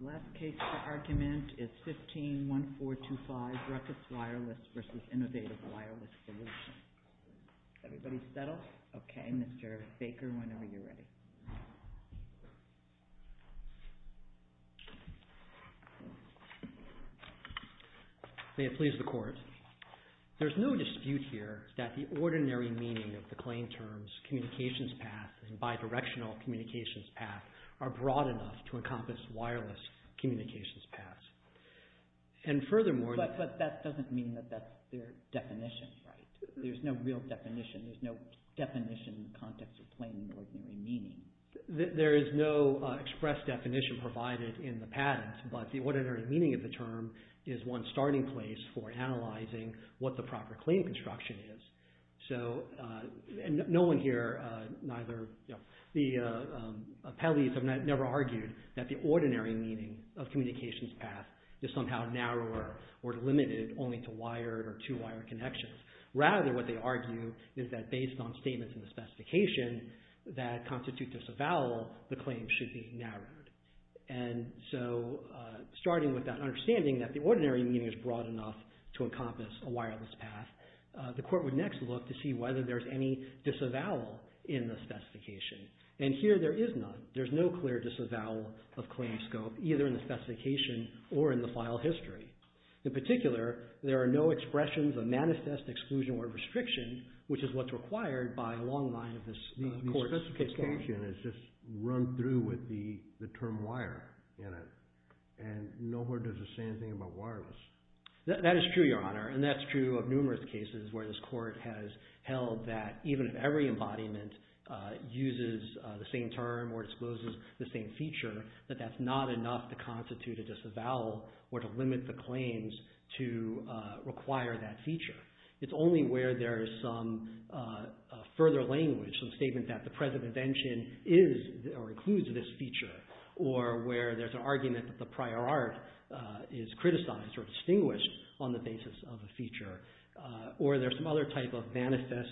The last case for argument is 15-1425, Ruckus Wireless v. Innovative Wireless Solutions. May it please the Court, there is no dispute here that the ordinary meaning of the claim terms communications path and bidirectional communications path are broad enough to encompass There is no express definition provided in the patent, but the ordinary meaning of the term is one starting place for analyzing what the proper claim construction is. No one here, the appellees have never argued that the ordinary meaning of communications path is somehow narrower or limited only to wired or two-wired connections. Rather, what they argue is that based on statements in the specification that constitute disavowal, the claim should be narrowed. And so, starting with that understanding that the ordinary meaning is broad enough to encompass a wireless path, the Court would next look to see whether there is any disavowal in the specification. And here, there is none. There is no clear disavowal of claim scope, either in the specification or in the file history. In particular, there are no expressions of manifest exclusion or restriction, which is what's required by a long line of this Court's case law. The specification is just run through with the term wire in it, and nowhere does it say anything about wireless. That is true, Your Honor, and that's true of numerous cases where this Court has held that even if every embodiment uses the same term or discloses the same feature, that that's not enough to constitute a disavowal or to limit the claims to require that feature. It's only where there is some further language, some statement that the present invention is or includes this feature, or where there's an argument that the prior art is criticized or distinguished on the basis of a feature, or there's some other type of manifest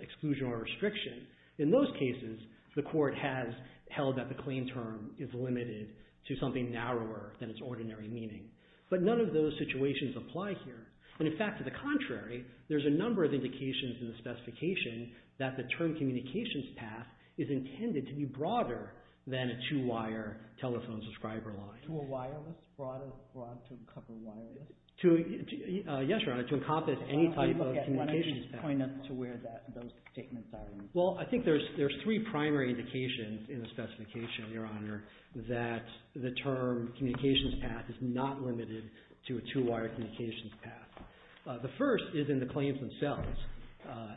exclusion or restriction. In those cases, the Court has held that the claim term is limited to something narrower than its ordinary meaning. But none of those situations apply here. And in fact, to the contrary, there's a number of indications in the specification that the term communications path is intended to be broader than a two-wire telephone subscriber line. To a wireless? Broad to cover wireless? Yes, Your Honor, to encompass any type of communications path. Why don't you point us to where those statements are? Well, I think there's three primary indications in the specification, Your Honor, that the term communications path is not limited to a two-wire communications path. The first is in the claims themselves.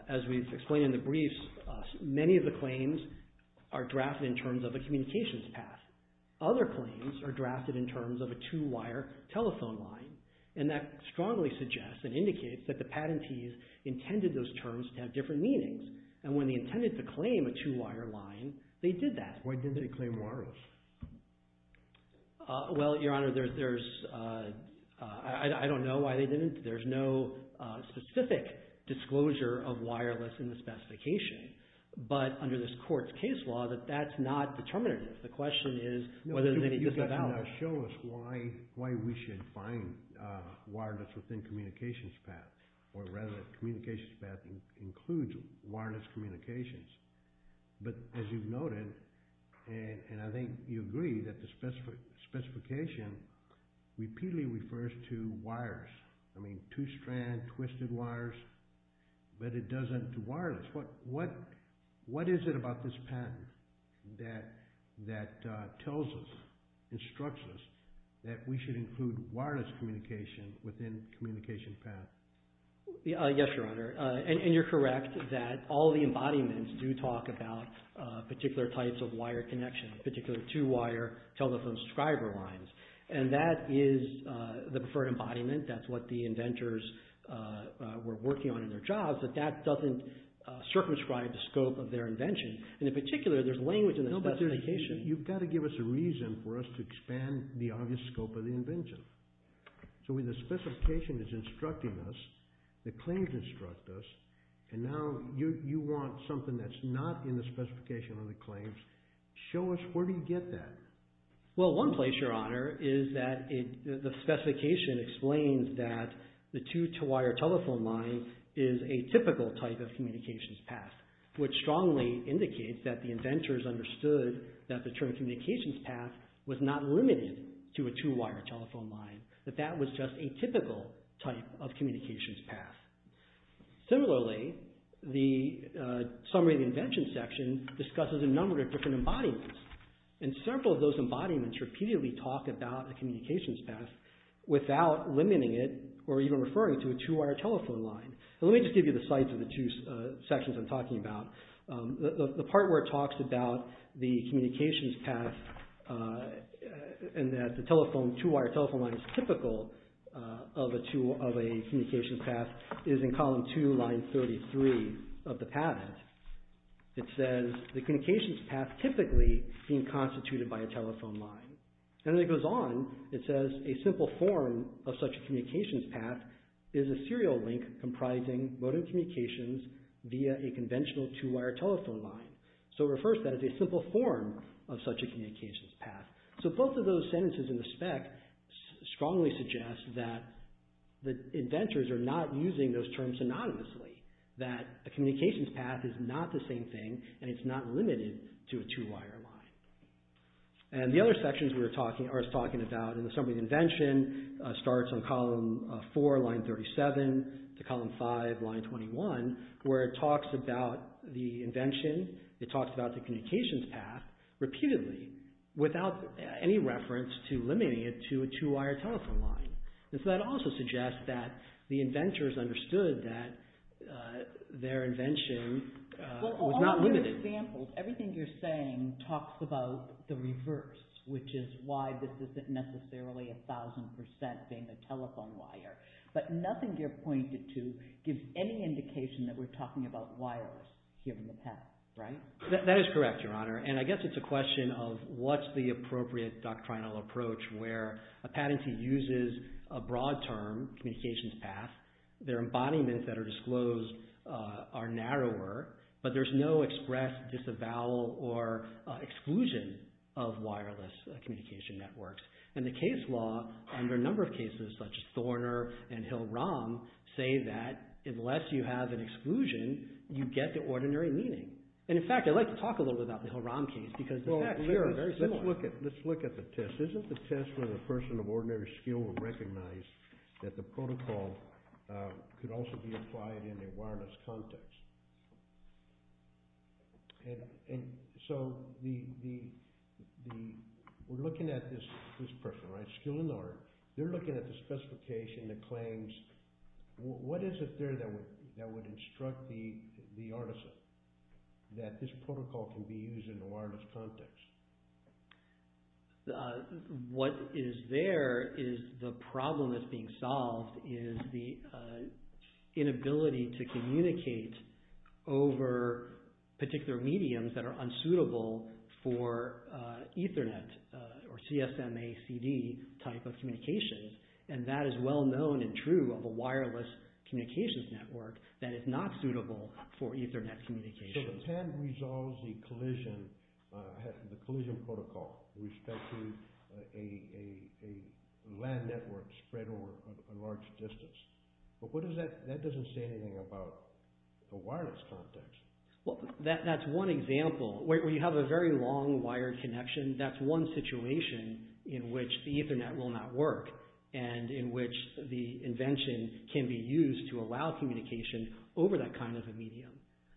As we've explained in the briefs, many of the claims are drafted in terms of a communications path. Other claims are drafted in terms of a two-wire telephone line. And that strongly suggests and indicates that the patentees intended those terms to have different meanings. And when they intended to claim a two-wire line, they did that. Why didn't they claim wireless? Well, Your Honor, I don't know why they didn't. There's no specific disclosure of wireless in the specification. But under this Court's case law, that's not determinative. The question is whether there's any disavowal. No, but you've got to now show us why we should find wireless within communications path, or rather, communications path includes wireless communications. But as you've noted, and I think you agree, that the specification repeatedly refers to wires. I mean, two-strand, twisted wires, but it doesn't do wireless. What is it about this patent that tells us, instructs us, that we should include wireless communication within communications path? Yes, Your Honor. And you're correct that all the embodiments do talk about particular types of wire connections, particularly two-wire telephone subscriber lines. And that is the preferred embodiment. That's what the inventors were working on in their jobs. But that doesn't circumscribe the scope of their invention. And in particular, there's language in the specification. No, but you've got to give us a reason for us to expand the obvious scope of the invention. So when the specification is instructing us, the claims instruct us, and now you want something that's not in the specification or the claims, show us where do you get that? Well, one place, Your Honor, is that the specification explains that the two-wire telephone line is a typical type of communications path, which strongly indicates that the inventors understood that the term communications path was not limited to a two-wire telephone line, that that was just a typical type of communications path. Similarly, the summary of the invention section discusses a number of different embodiments. And several of those embodiments repeatedly talk about a communications path without limiting it or even referring to a two-wire telephone line. Let me just give you the sites of the two sections I'm talking about. The part where it talks about the communications path and that the two-wire telephone line is typical of a communications path is in column two, line 33 of the patent. It says, the communications path typically being constituted by a telephone line. And then it goes on. It says, a simple form of such a communications path is a serial link comprising modem communications via a conventional two-wire telephone line. So, it refers to that as a simple form of such a communications path. So, both of those sentences in the spec strongly suggest that the inventors are not using those terms synonymously, that a communications path is not the same thing and it's not limited to a two-wire line. And the other sections we're talking about in the summary of the invention starts on column four, line 37 to column five, line 21, where it talks about the invention. It talks about the communications path repeatedly without any reference to limiting it to a two-wire telephone line. And so, that also suggests that the inventors understood that their invention was not limited. So, for example, everything you're saying talks about the reverse, which is why this isn't necessarily a thousand percent being a telephone wire. But nothing you're pointing to gives any indication that we're talking about wires here in the patent, right? That is correct, Your Honor. And I guess it's a question of what's the appropriate doctrinal approach where a patentee uses a broad term, communications path, their embodiments that are disclosed are narrower, but there's no express, disavowal, or exclusion of wireless communication networks. And the case law under a number of cases, such as Thorner and Hill-Rom, say that unless you have an exclusion, you get the ordinary meaning. And, in fact, I'd like to talk a little bit about the Hill-Rom case because the facts here are very similar. Well, let's look at the test. Isn't the test where the person of ordinary skill would recognize that the protocol could also be applied in a wireless context? And so we're looking at this person, right? Skill and art. They're looking at the specification that claims, what is it there that would instruct the artisan that this protocol can be used in a wireless context? What is there is the problem that's being solved is the inability to communicate over particular mediums that are unsuitable for Ethernet or CSMACD type of communications. And that is well known and true of a wireless communications network that is not suitable for Ethernet communications. So the pen resolves the collision protocol with respect to a LAN network spread over a large distance. But that doesn't say anything about a wireless context. Well, that's one example where you have a very long wired connection. That's one situation in which the Ethernet will not work and in which the invention can be used to allow communication over that kind of a medium.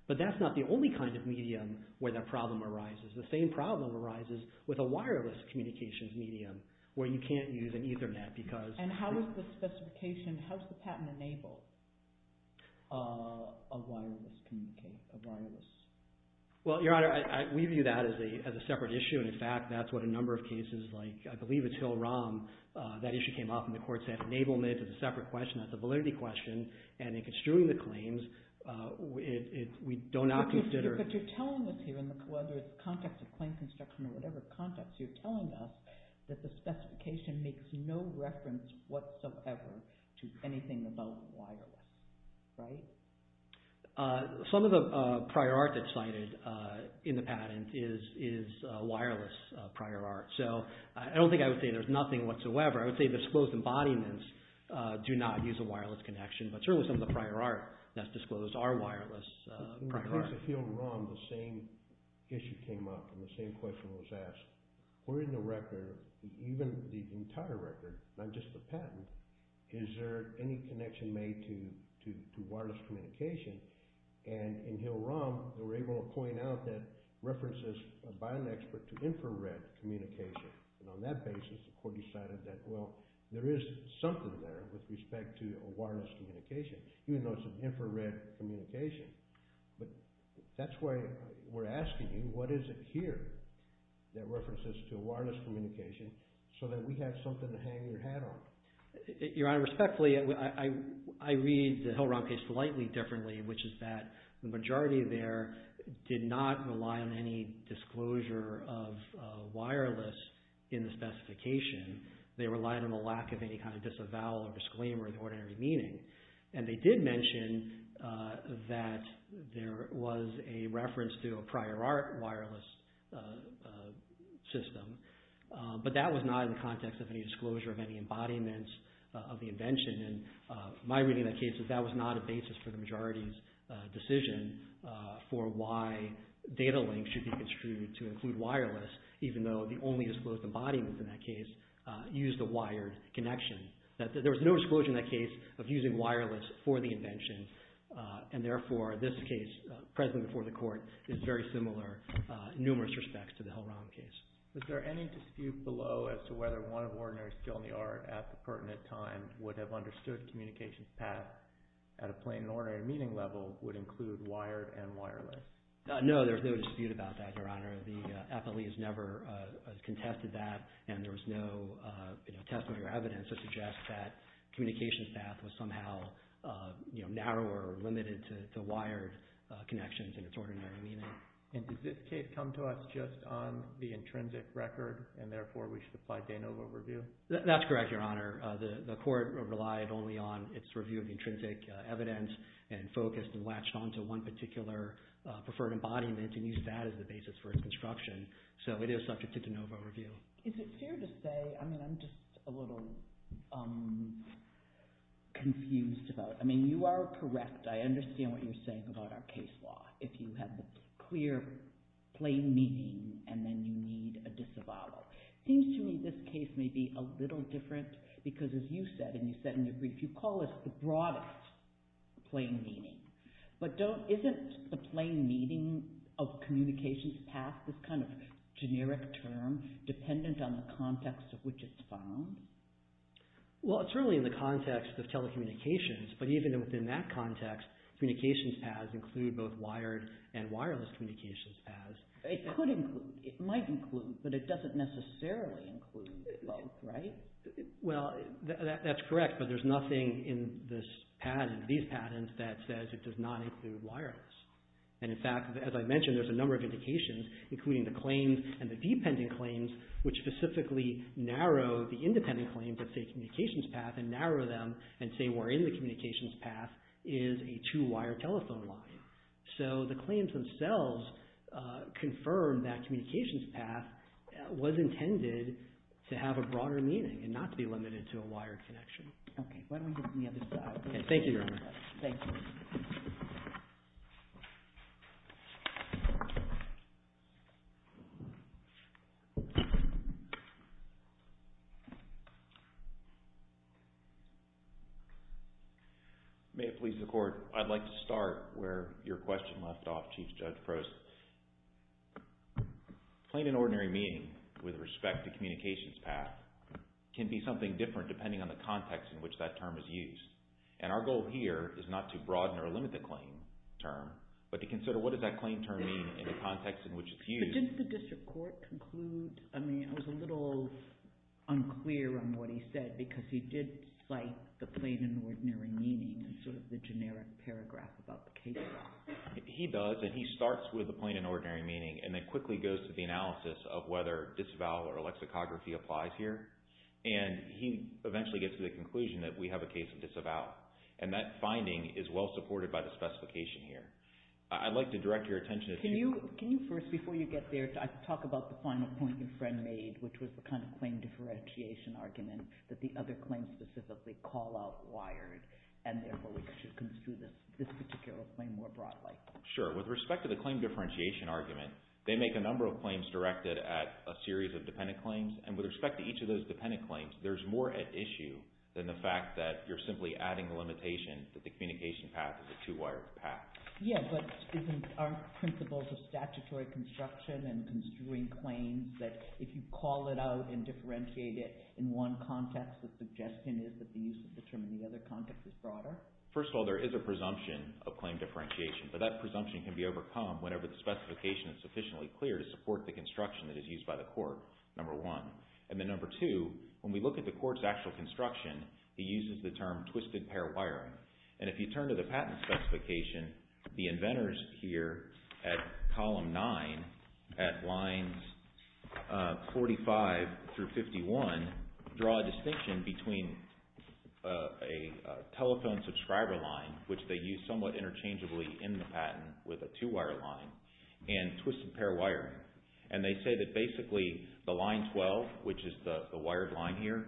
But that's not the only kind of medium where that problem arises. The same problem arises with a wireless communications medium where you can't use an Ethernet because And how is the specification, how is the patent enabled of wireless communication, of wireless? Well, Your Honor, we view that as a separate issue. And in fact, that's what a number of cases like, I believe it's Hill-Rom, that issue came up and the court said enablement is a separate question. That's a validity question. And in construing the claims, we do not consider... But you're telling us here, whether it's context of claim construction or whatever context, you're telling us that the specification makes no reference whatsoever to anything about wireless, right? Some of the prior art that's cited in the patent is wireless prior art. So I don't think I would say there's nothing whatsoever. I would say disclosed embodiments do not use a wireless connection, but certainly some of the prior art that's disclosed are wireless prior art. In the case of Hill-Rom, the same issue came up and the same question was asked. Were in the record, even the entire record, not just the patent, is there any connection made to wireless communication? And in Hill-Rom, they were able to point out that references by an expert to infrared communication. And on that basis, the court decided that, well, there is something there with respect to a wireless communication, even though it's an infrared communication. But that's why we're asking you, what is it here that references to a wireless communication so that we have something to hang your hat on? Your Honor, respectfully, I read the Hill-Rom case slightly differently, which is that the in the specification, they relied on the lack of any kind of disavowal or disclaimer in the ordinary meaning. And they did mention that there was a reference to a prior art wireless system, but that was not in the context of any disclosure of any embodiments of the invention. And my reading of that case is that was not a basis for the majority's decision for why data links should be construed to include wireless, even though the only disclosed embodiment in that case used a wired connection. There was no disclosure in that case of using wireless for the invention. And therefore, this case present before the court is very similar in numerous respects to the Hill-Rom case. Was there any dispute below as to whether one of ordinary skill in the art at the pertinent time would have understood communications path at a plain and ordinary meaning level would include wired and wireless? No, there's no dispute about that, Your Honor. The appellee has never contested that, and there was no testimony or evidence to suggest that communications path was somehow narrower or limited to wired connections in its ordinary meaning. And did this case come to us just on the intrinsic record, and therefore we should apply de novo review? That's correct, Your Honor. preferred embodiment and used that as the basis for its construction. So it is subject to de novo review. Is it fair to say, I mean, I'm just a little confused about it. I mean, you are correct. I understand what you're saying about our case law. If you have a clear, plain meaning, and then you need a disavowal. It seems to me this case may be a little different, because as you said, and you said in your plain meaning. But isn't the plain meaning of communications path this kind of generic term dependent on the context of which it's found? Well, it's really in the context of telecommunications. But even within that context, communications paths include both wired and wireless communications paths. It might include, but it doesn't necessarily include, right? Well, that's correct. But there's nothing in this patent, these patents, that says it does not include wireless. And in fact, as I mentioned, there's a number of indications, including the claims and the dependent claims, which specifically narrow the independent claims that say communications path, and narrow them, and say we're in the communications path, is a two-wire telephone line. So the claims themselves confirm that communications path was intended to have a broader meaning. And not to be limited to a wired connection. Okay. Why don't we go to the other side. Thank you, Your Honor. Thank you. May it please the Court, I'd like to start where your question left off, Chief Judge Frost. Plain and ordinary meaning, with respect to communications path, can be something different depending on the context in which that term is used. And our goal here is not to broaden or limit the claim term, but to consider what does that claim term mean in the context in which it's used. But didn't the District Court conclude, I mean, I was a little unclear on what he said, because he did cite the plain and ordinary meaning in sort of the generic paragraph about the case law. He does, and he starts with the plain and ordinary meaning, and then quickly goes to the analysis of whether disavowal or lexicography applies here. And he eventually gets to the conclusion that we have a case of disavowal. And that finding is well supported by the specification here. I'd like to direct your attention to... Can you first, before you get there, talk about the final point your friend made, which was the kind of claim differentiation argument that the other claims specifically call out and therefore we should construe this particular claim more broadly. Sure. With respect to the claim differentiation argument, they make a number of claims directed at a series of dependent claims. And with respect to each of those dependent claims, there's more at issue than the fact that you're simply adding the limitation that the communication path is a two-wired path. Yeah, but isn't our principles of statutory construction and construing claims that if you call it out and differentiate it in one context, the suggestion is that the use of the term in the other context is broader? First of all, there is a presumption of claim differentiation, but that presumption can be overcome whenever the specification is sufficiently clear to support the construction that is used by the court, number one. And then number two, when we look at the court's actual construction, it uses the term twisted pair wiring. And if you turn to the patent specification, the inventors here at column nine at lines 45 through 51 draw a distinction between a telephone subscriber line, which they use somewhat interchangeably in the patent with a two-wire line, and twisted pair wiring. And they say that basically the line 12, which is the wired line here,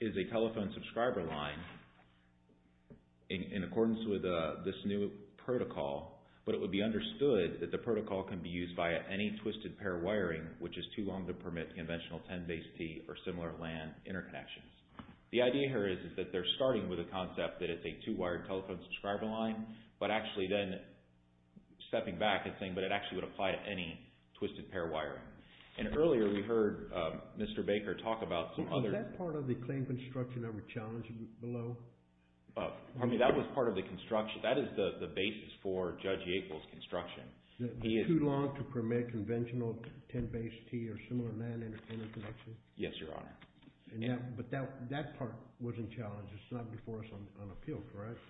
is a telephone subscriber line in accordance with this new protocol, but it would be understood that the protocol can be used via any twisted pair wiring, which is too long to permit conventional 10-base T or similar LAN interconnections. The idea here is that they're starting with a concept that it's a two-wired telephone subscriber line, but actually then stepping back and saying, but it actually would apply to any twisted pair wiring. And earlier we heard Mr. Baker talk about some other... Was that part of the claim construction that we challenged below? I mean, that was part of the construction. That is the basis for Judge Yackel's construction. Too long to permit conventional 10-base T or similar LAN interconnections? Yes, Your Honor. But that part wasn't challenged. It's not before us on appeal, correct?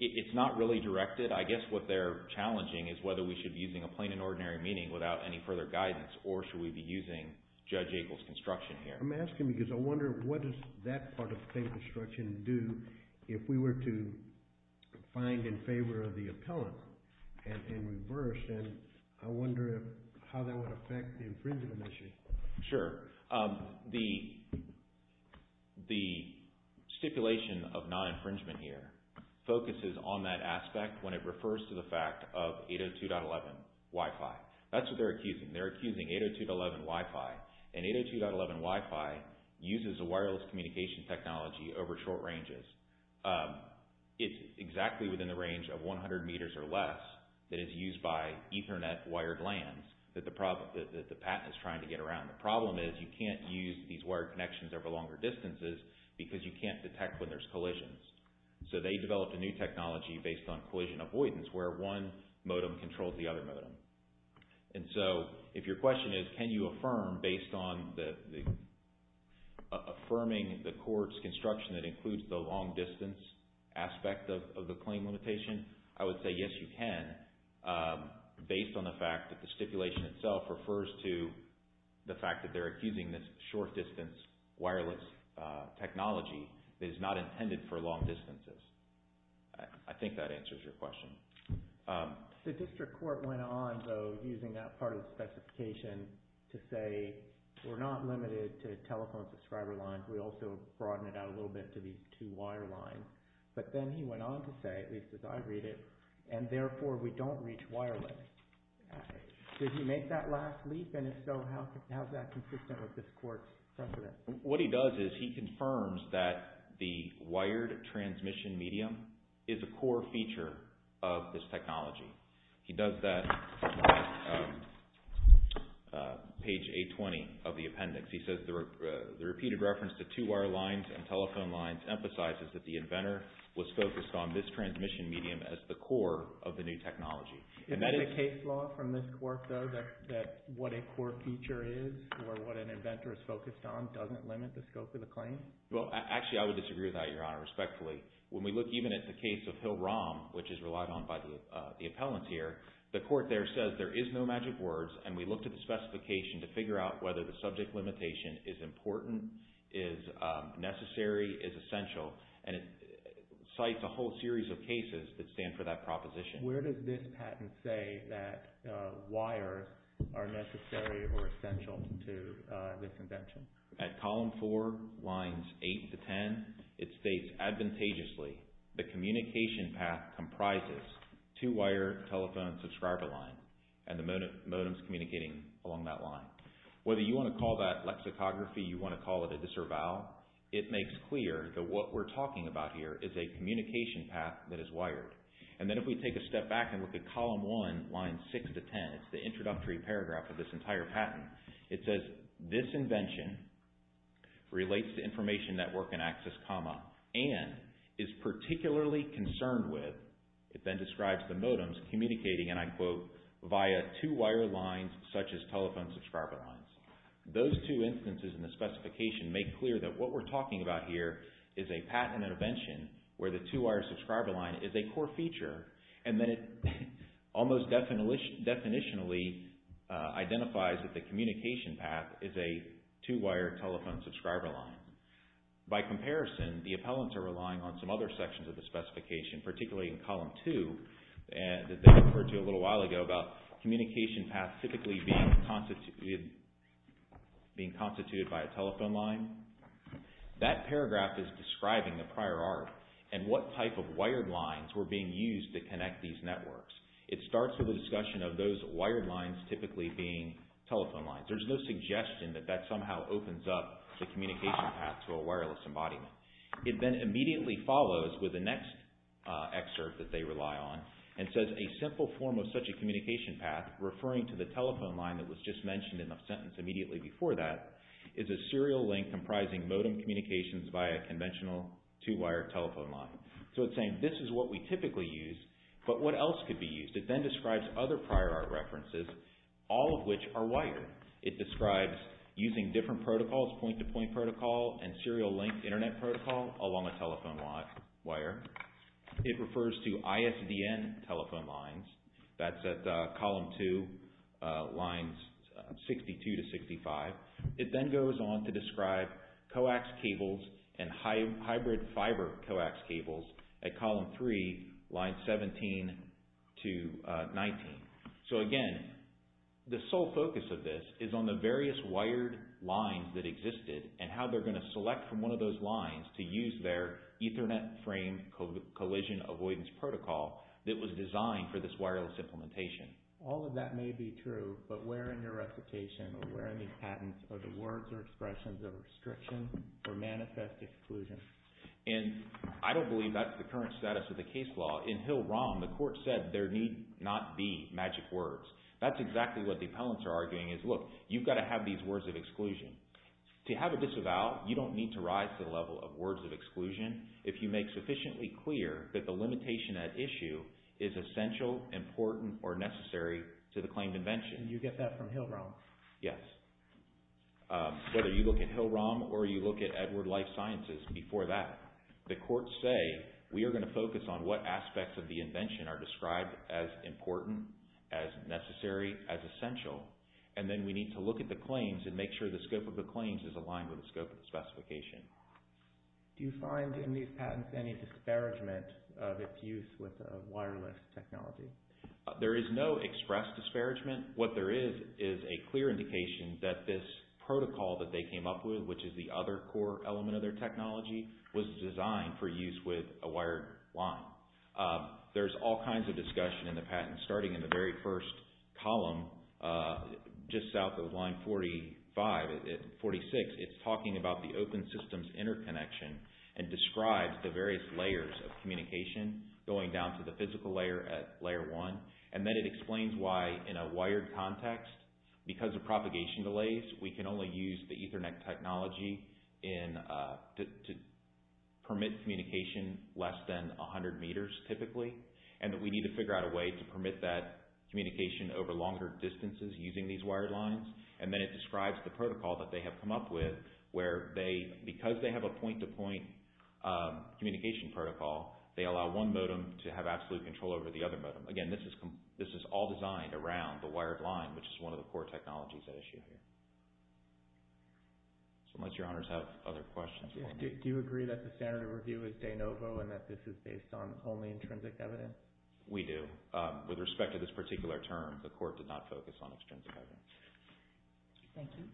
It's not really directed. I guess what they're challenging is whether we should be using a plain and ordinary meaning without any further guidance, or should we be using Judge Yackel's construction here? I'm asking because I wonder what does that part of the claim construction do if we were to find in favor of the appellant and in reverse, and I wonder how that would affect the infringement issue. Sure. The stipulation of non-infringement here focuses on that aspect when it refers to the fact of 802.11 Wi-Fi. That's what they're accusing. They're accusing 802.11 Wi-Fi, and 802.11 Wi-Fi uses a wireless communication technology over short ranges. It's exactly within the range of 100 meters or less that is used by Ethernet wired LANs that the patent is trying to get around. The problem is you can't use these wired connections over longer distances because you can't detect when there's collisions. So they developed a new technology based on collision avoidance where one modem controls the other modem. If your question is can you affirm based on affirming the court's construction that includes the long distance aspect of the claim limitation, I would say yes you can based on the fact that the stipulation itself refers to the fact that they're accusing this short distance wireless technology that is not intended for long distances. I think that answers your question. The district court went on, though, using that part of the specification to say we're not limited to telephone subscriber lines. We also broaden it out a little bit to these two wire lines. But then he went on to say, at least as I read it, and therefore we don't reach wireless. Did he make that last leap? And if so, how is that consistent with this court's precedent? What he does is he confirms that the wired transmission medium is a core feature of this technology. He does that on page 820 of the appendix. He says the repeated reference to two wire lines and telephone lines emphasizes that the inventor was focused on this transmission medium as the core of the new technology. Is that a case law from this court, though, that what a core feature is or what an inventor is focused on doesn't limit the scope of the claim? Well, actually, I would disagree with that, Your Honor, respectfully. When we look even at the case of Hill-Rom, which is relied on by the appellant here, the court there says there is no magic words, and we looked at the specification to figure out whether the subject limitation is important, is necessary, is essential, and it cites a whole series of cases that stand for that proposition. Where does this patent say that wires are necessary or essential to this invention? At column 4, lines 8 to 10, it states advantageously the communication path comprises two wire telephone subscriber line and the modems communicating along that line. Whether you want to call that lexicography, you want to call it a discerval, it makes clear that what we're talking about here is a communication path that is wired. And then if we take a step back and look at column 1, lines 6 to 10, it's the introductory paragraph of this entire patent. It says this invention relates to information network and access comma and is particularly concerned with, it then describes the modems communicating, and I quote, via two wire lines such as telephone subscriber lines. Those two instances in the specification make clear that what we're talking about here is a patent invention where the two wire subscriber line is a core feature and then it almost definitionally identifies that the communication path is a two wire telephone subscriber line. By comparison, the appellants are relying on some other sections of the specification, particularly in column 2 that they referred to a little while ago about communication path typically being constituted by a telephone line. That paragraph is describing the prior art and what type of wired lines were being used to connect these networks. It starts with a discussion of those wired lines typically being telephone lines. There's no suggestion that that somehow opens up the communication path to a wireless embodiment. It then immediately follows with the next excerpt that they rely on and says a simple form of such a communication path referring to the telephone line that was just mentioned in the sentence immediately before that is a serial link comprising modem communications via conventional two wire telephone line. So it's saying this is what we typically use, but what else could be used? It then describes other prior art references, all of which are wired. It describes using different protocols, point to point protocol and serial link internet protocol along a telephone wire. It refers to ISDN telephone lines. That's at column 2, lines 62 to 65. It then goes on to describe coax cables and hybrid fiber coax cables at column 3, lines 17 to 19. So again, the sole focus of this is on the various wired lines that existed and how they're going to select from one of those lines to use their ethernet frame collision avoidance protocol that was designed for this wireless implementation. All of that may be true, but where in your recitation or where in these patents are the words or expressions of restriction or manifest exclusion? And I don't believe that's the current status of the case law. In Hill-Rom, the court said there need not be magic words. That's exactly what the appellants are arguing is look, you've got to have these words of exclusion. To have a disavowal, you don't need to rise to the level of words of exclusion if you make sufficiently clear that the limitation at issue is essential, important or necessary to the claimed invention. And you get that from Hill-Rom? Yes. Whether you look at Hill-Rom or you look at Edward Life Sciences, before that, the courts say we are going to focus on what aspects of the invention are described as important, as necessary, as essential. And then we need to look at the claims and make sure the scope of the claims is aligned with the scope of the specification. Do you find in these patents any disparagement of its use with wireless technology? There is no express disparagement. What there is is a clear indication that this protocol that they came up with, which is the other core element of their technology, was designed for use with a wired line. There is all kinds of discussion in the patent, starting in the very first column, just south of line 45, 46. It's talking about the open systems interconnection and describes the various layers of communication going down to the physical layer at layer 1. And then it explains why, in a wired context, because of propagation delays, we can only use the Ethernet technology to permit communication less than 100 meters, typically, and that we need to figure out a way to permit that communication over longer distances using these wired lines. And then it describes the protocol that they have come up with where, because they have a point-to-point communication protocol, they allow one modem to have absolute control over the other modem. Again, this is all designed around the wired line, which is one of the core technologies at issue here. Unless your honors have other questions. Do you agree that the standard of review is de novo and that this is based on only intrinsic evidence? We do. With respect to this particular term, the court did not focus on extrinsic evidence. Thank you.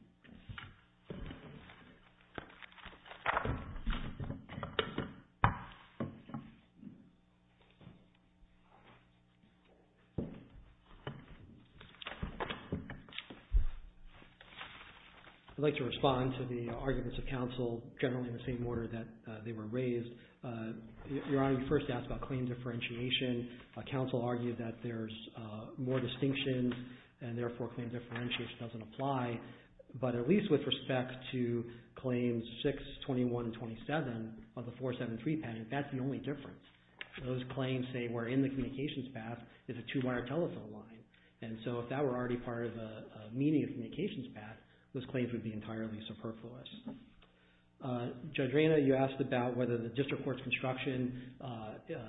I'd like to respond to the arguments of counsel, generally in the same order that they were raised. Your Honor, you first asked about claim differentiation. Counsel argued that there's more distinctions, and therefore, claim differentiation doesn't apply. But at least with respect to claims 6, 21, and 27 of the 473 patent, that's the only difference. Those claims say we're in the communications path, it's a two-wire telephone line. If that were already part of the meaning of communications path, those claims would be entirely superfluous. Judge Reyna, you asked about whether the district court's construction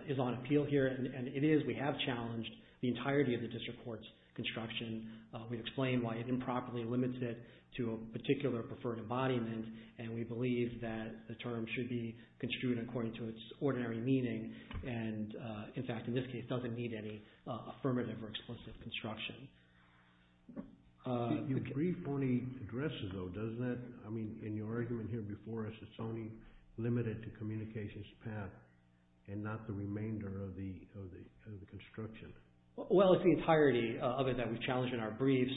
is on appeal here, and it is. We have challenged the entirety of the district court's construction. We've explained why it improperly limits it to a particular preferred embodiment, and we believe that the term should be construed according to its ordinary meaning. In fact, in this case, it doesn't need any affirmative or explicit construction. Your brief only addresses, though, doesn't it? I mean, in your argument here before us, it's only limited to communications path, and not the remainder of the construction. Well, it's the entirety of it that we've challenged in our briefs.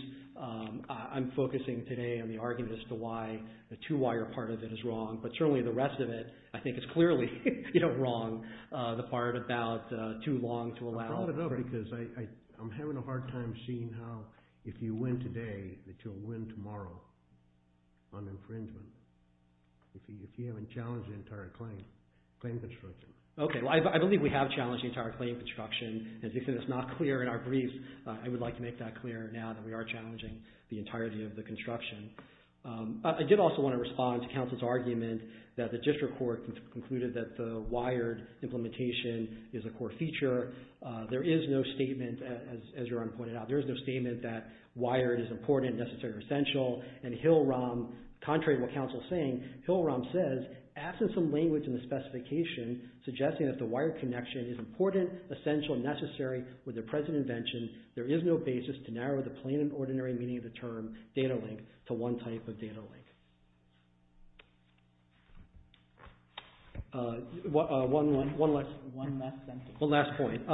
I'm focusing today on the argument as to why the two-wire part of it is wrong. But certainly, the rest of it, I think, is clearly wrong, the part about too long to allow. I brought it up because I'm having a hard time seeing how, if you win today, that you'll win tomorrow on infringement, if you haven't challenged the entire claim, claim construction. Okay. Well, I believe we have challenged the entire claim construction, and since it's not clear in our brief, I would like to make that clear now that we are challenging the entirety of the construction. I did also want to respond to counsel's argument that the district court concluded that the wired implementation is a core feature. There is no statement, as your Honor pointed out, there is no statement that wired is important, necessary, or essential. And Hill-Rom, contrary to what counsel is saying, Hill-Rom says, absent some language in the specification suggesting that the wired connection is important, essential, and necessary with the present invention, there is no basis to narrow the plain and ordinary meaning of the term data link to one type of data link. One last point.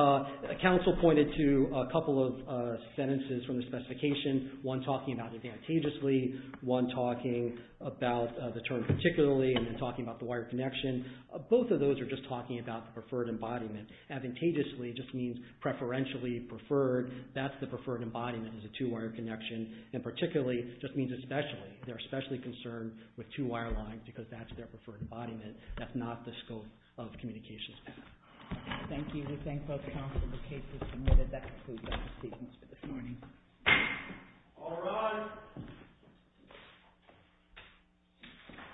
Counsel pointed to a couple of sentences from the specification, one talking about advantageously, one talking about the term particularly, and then talking about the wired connection. Both of those are just talking about the preferred embodiment. Advantageously just means preferentially preferred. That's the preferred embodiment is a two-wire connection. And particularly just means especially. They're especially concerned with two-wire lines because that's their preferred embodiment. That's not the scope of communications path. Thank you. We thank both counsel for the cases submitted. That concludes our statements for this morning. All rise.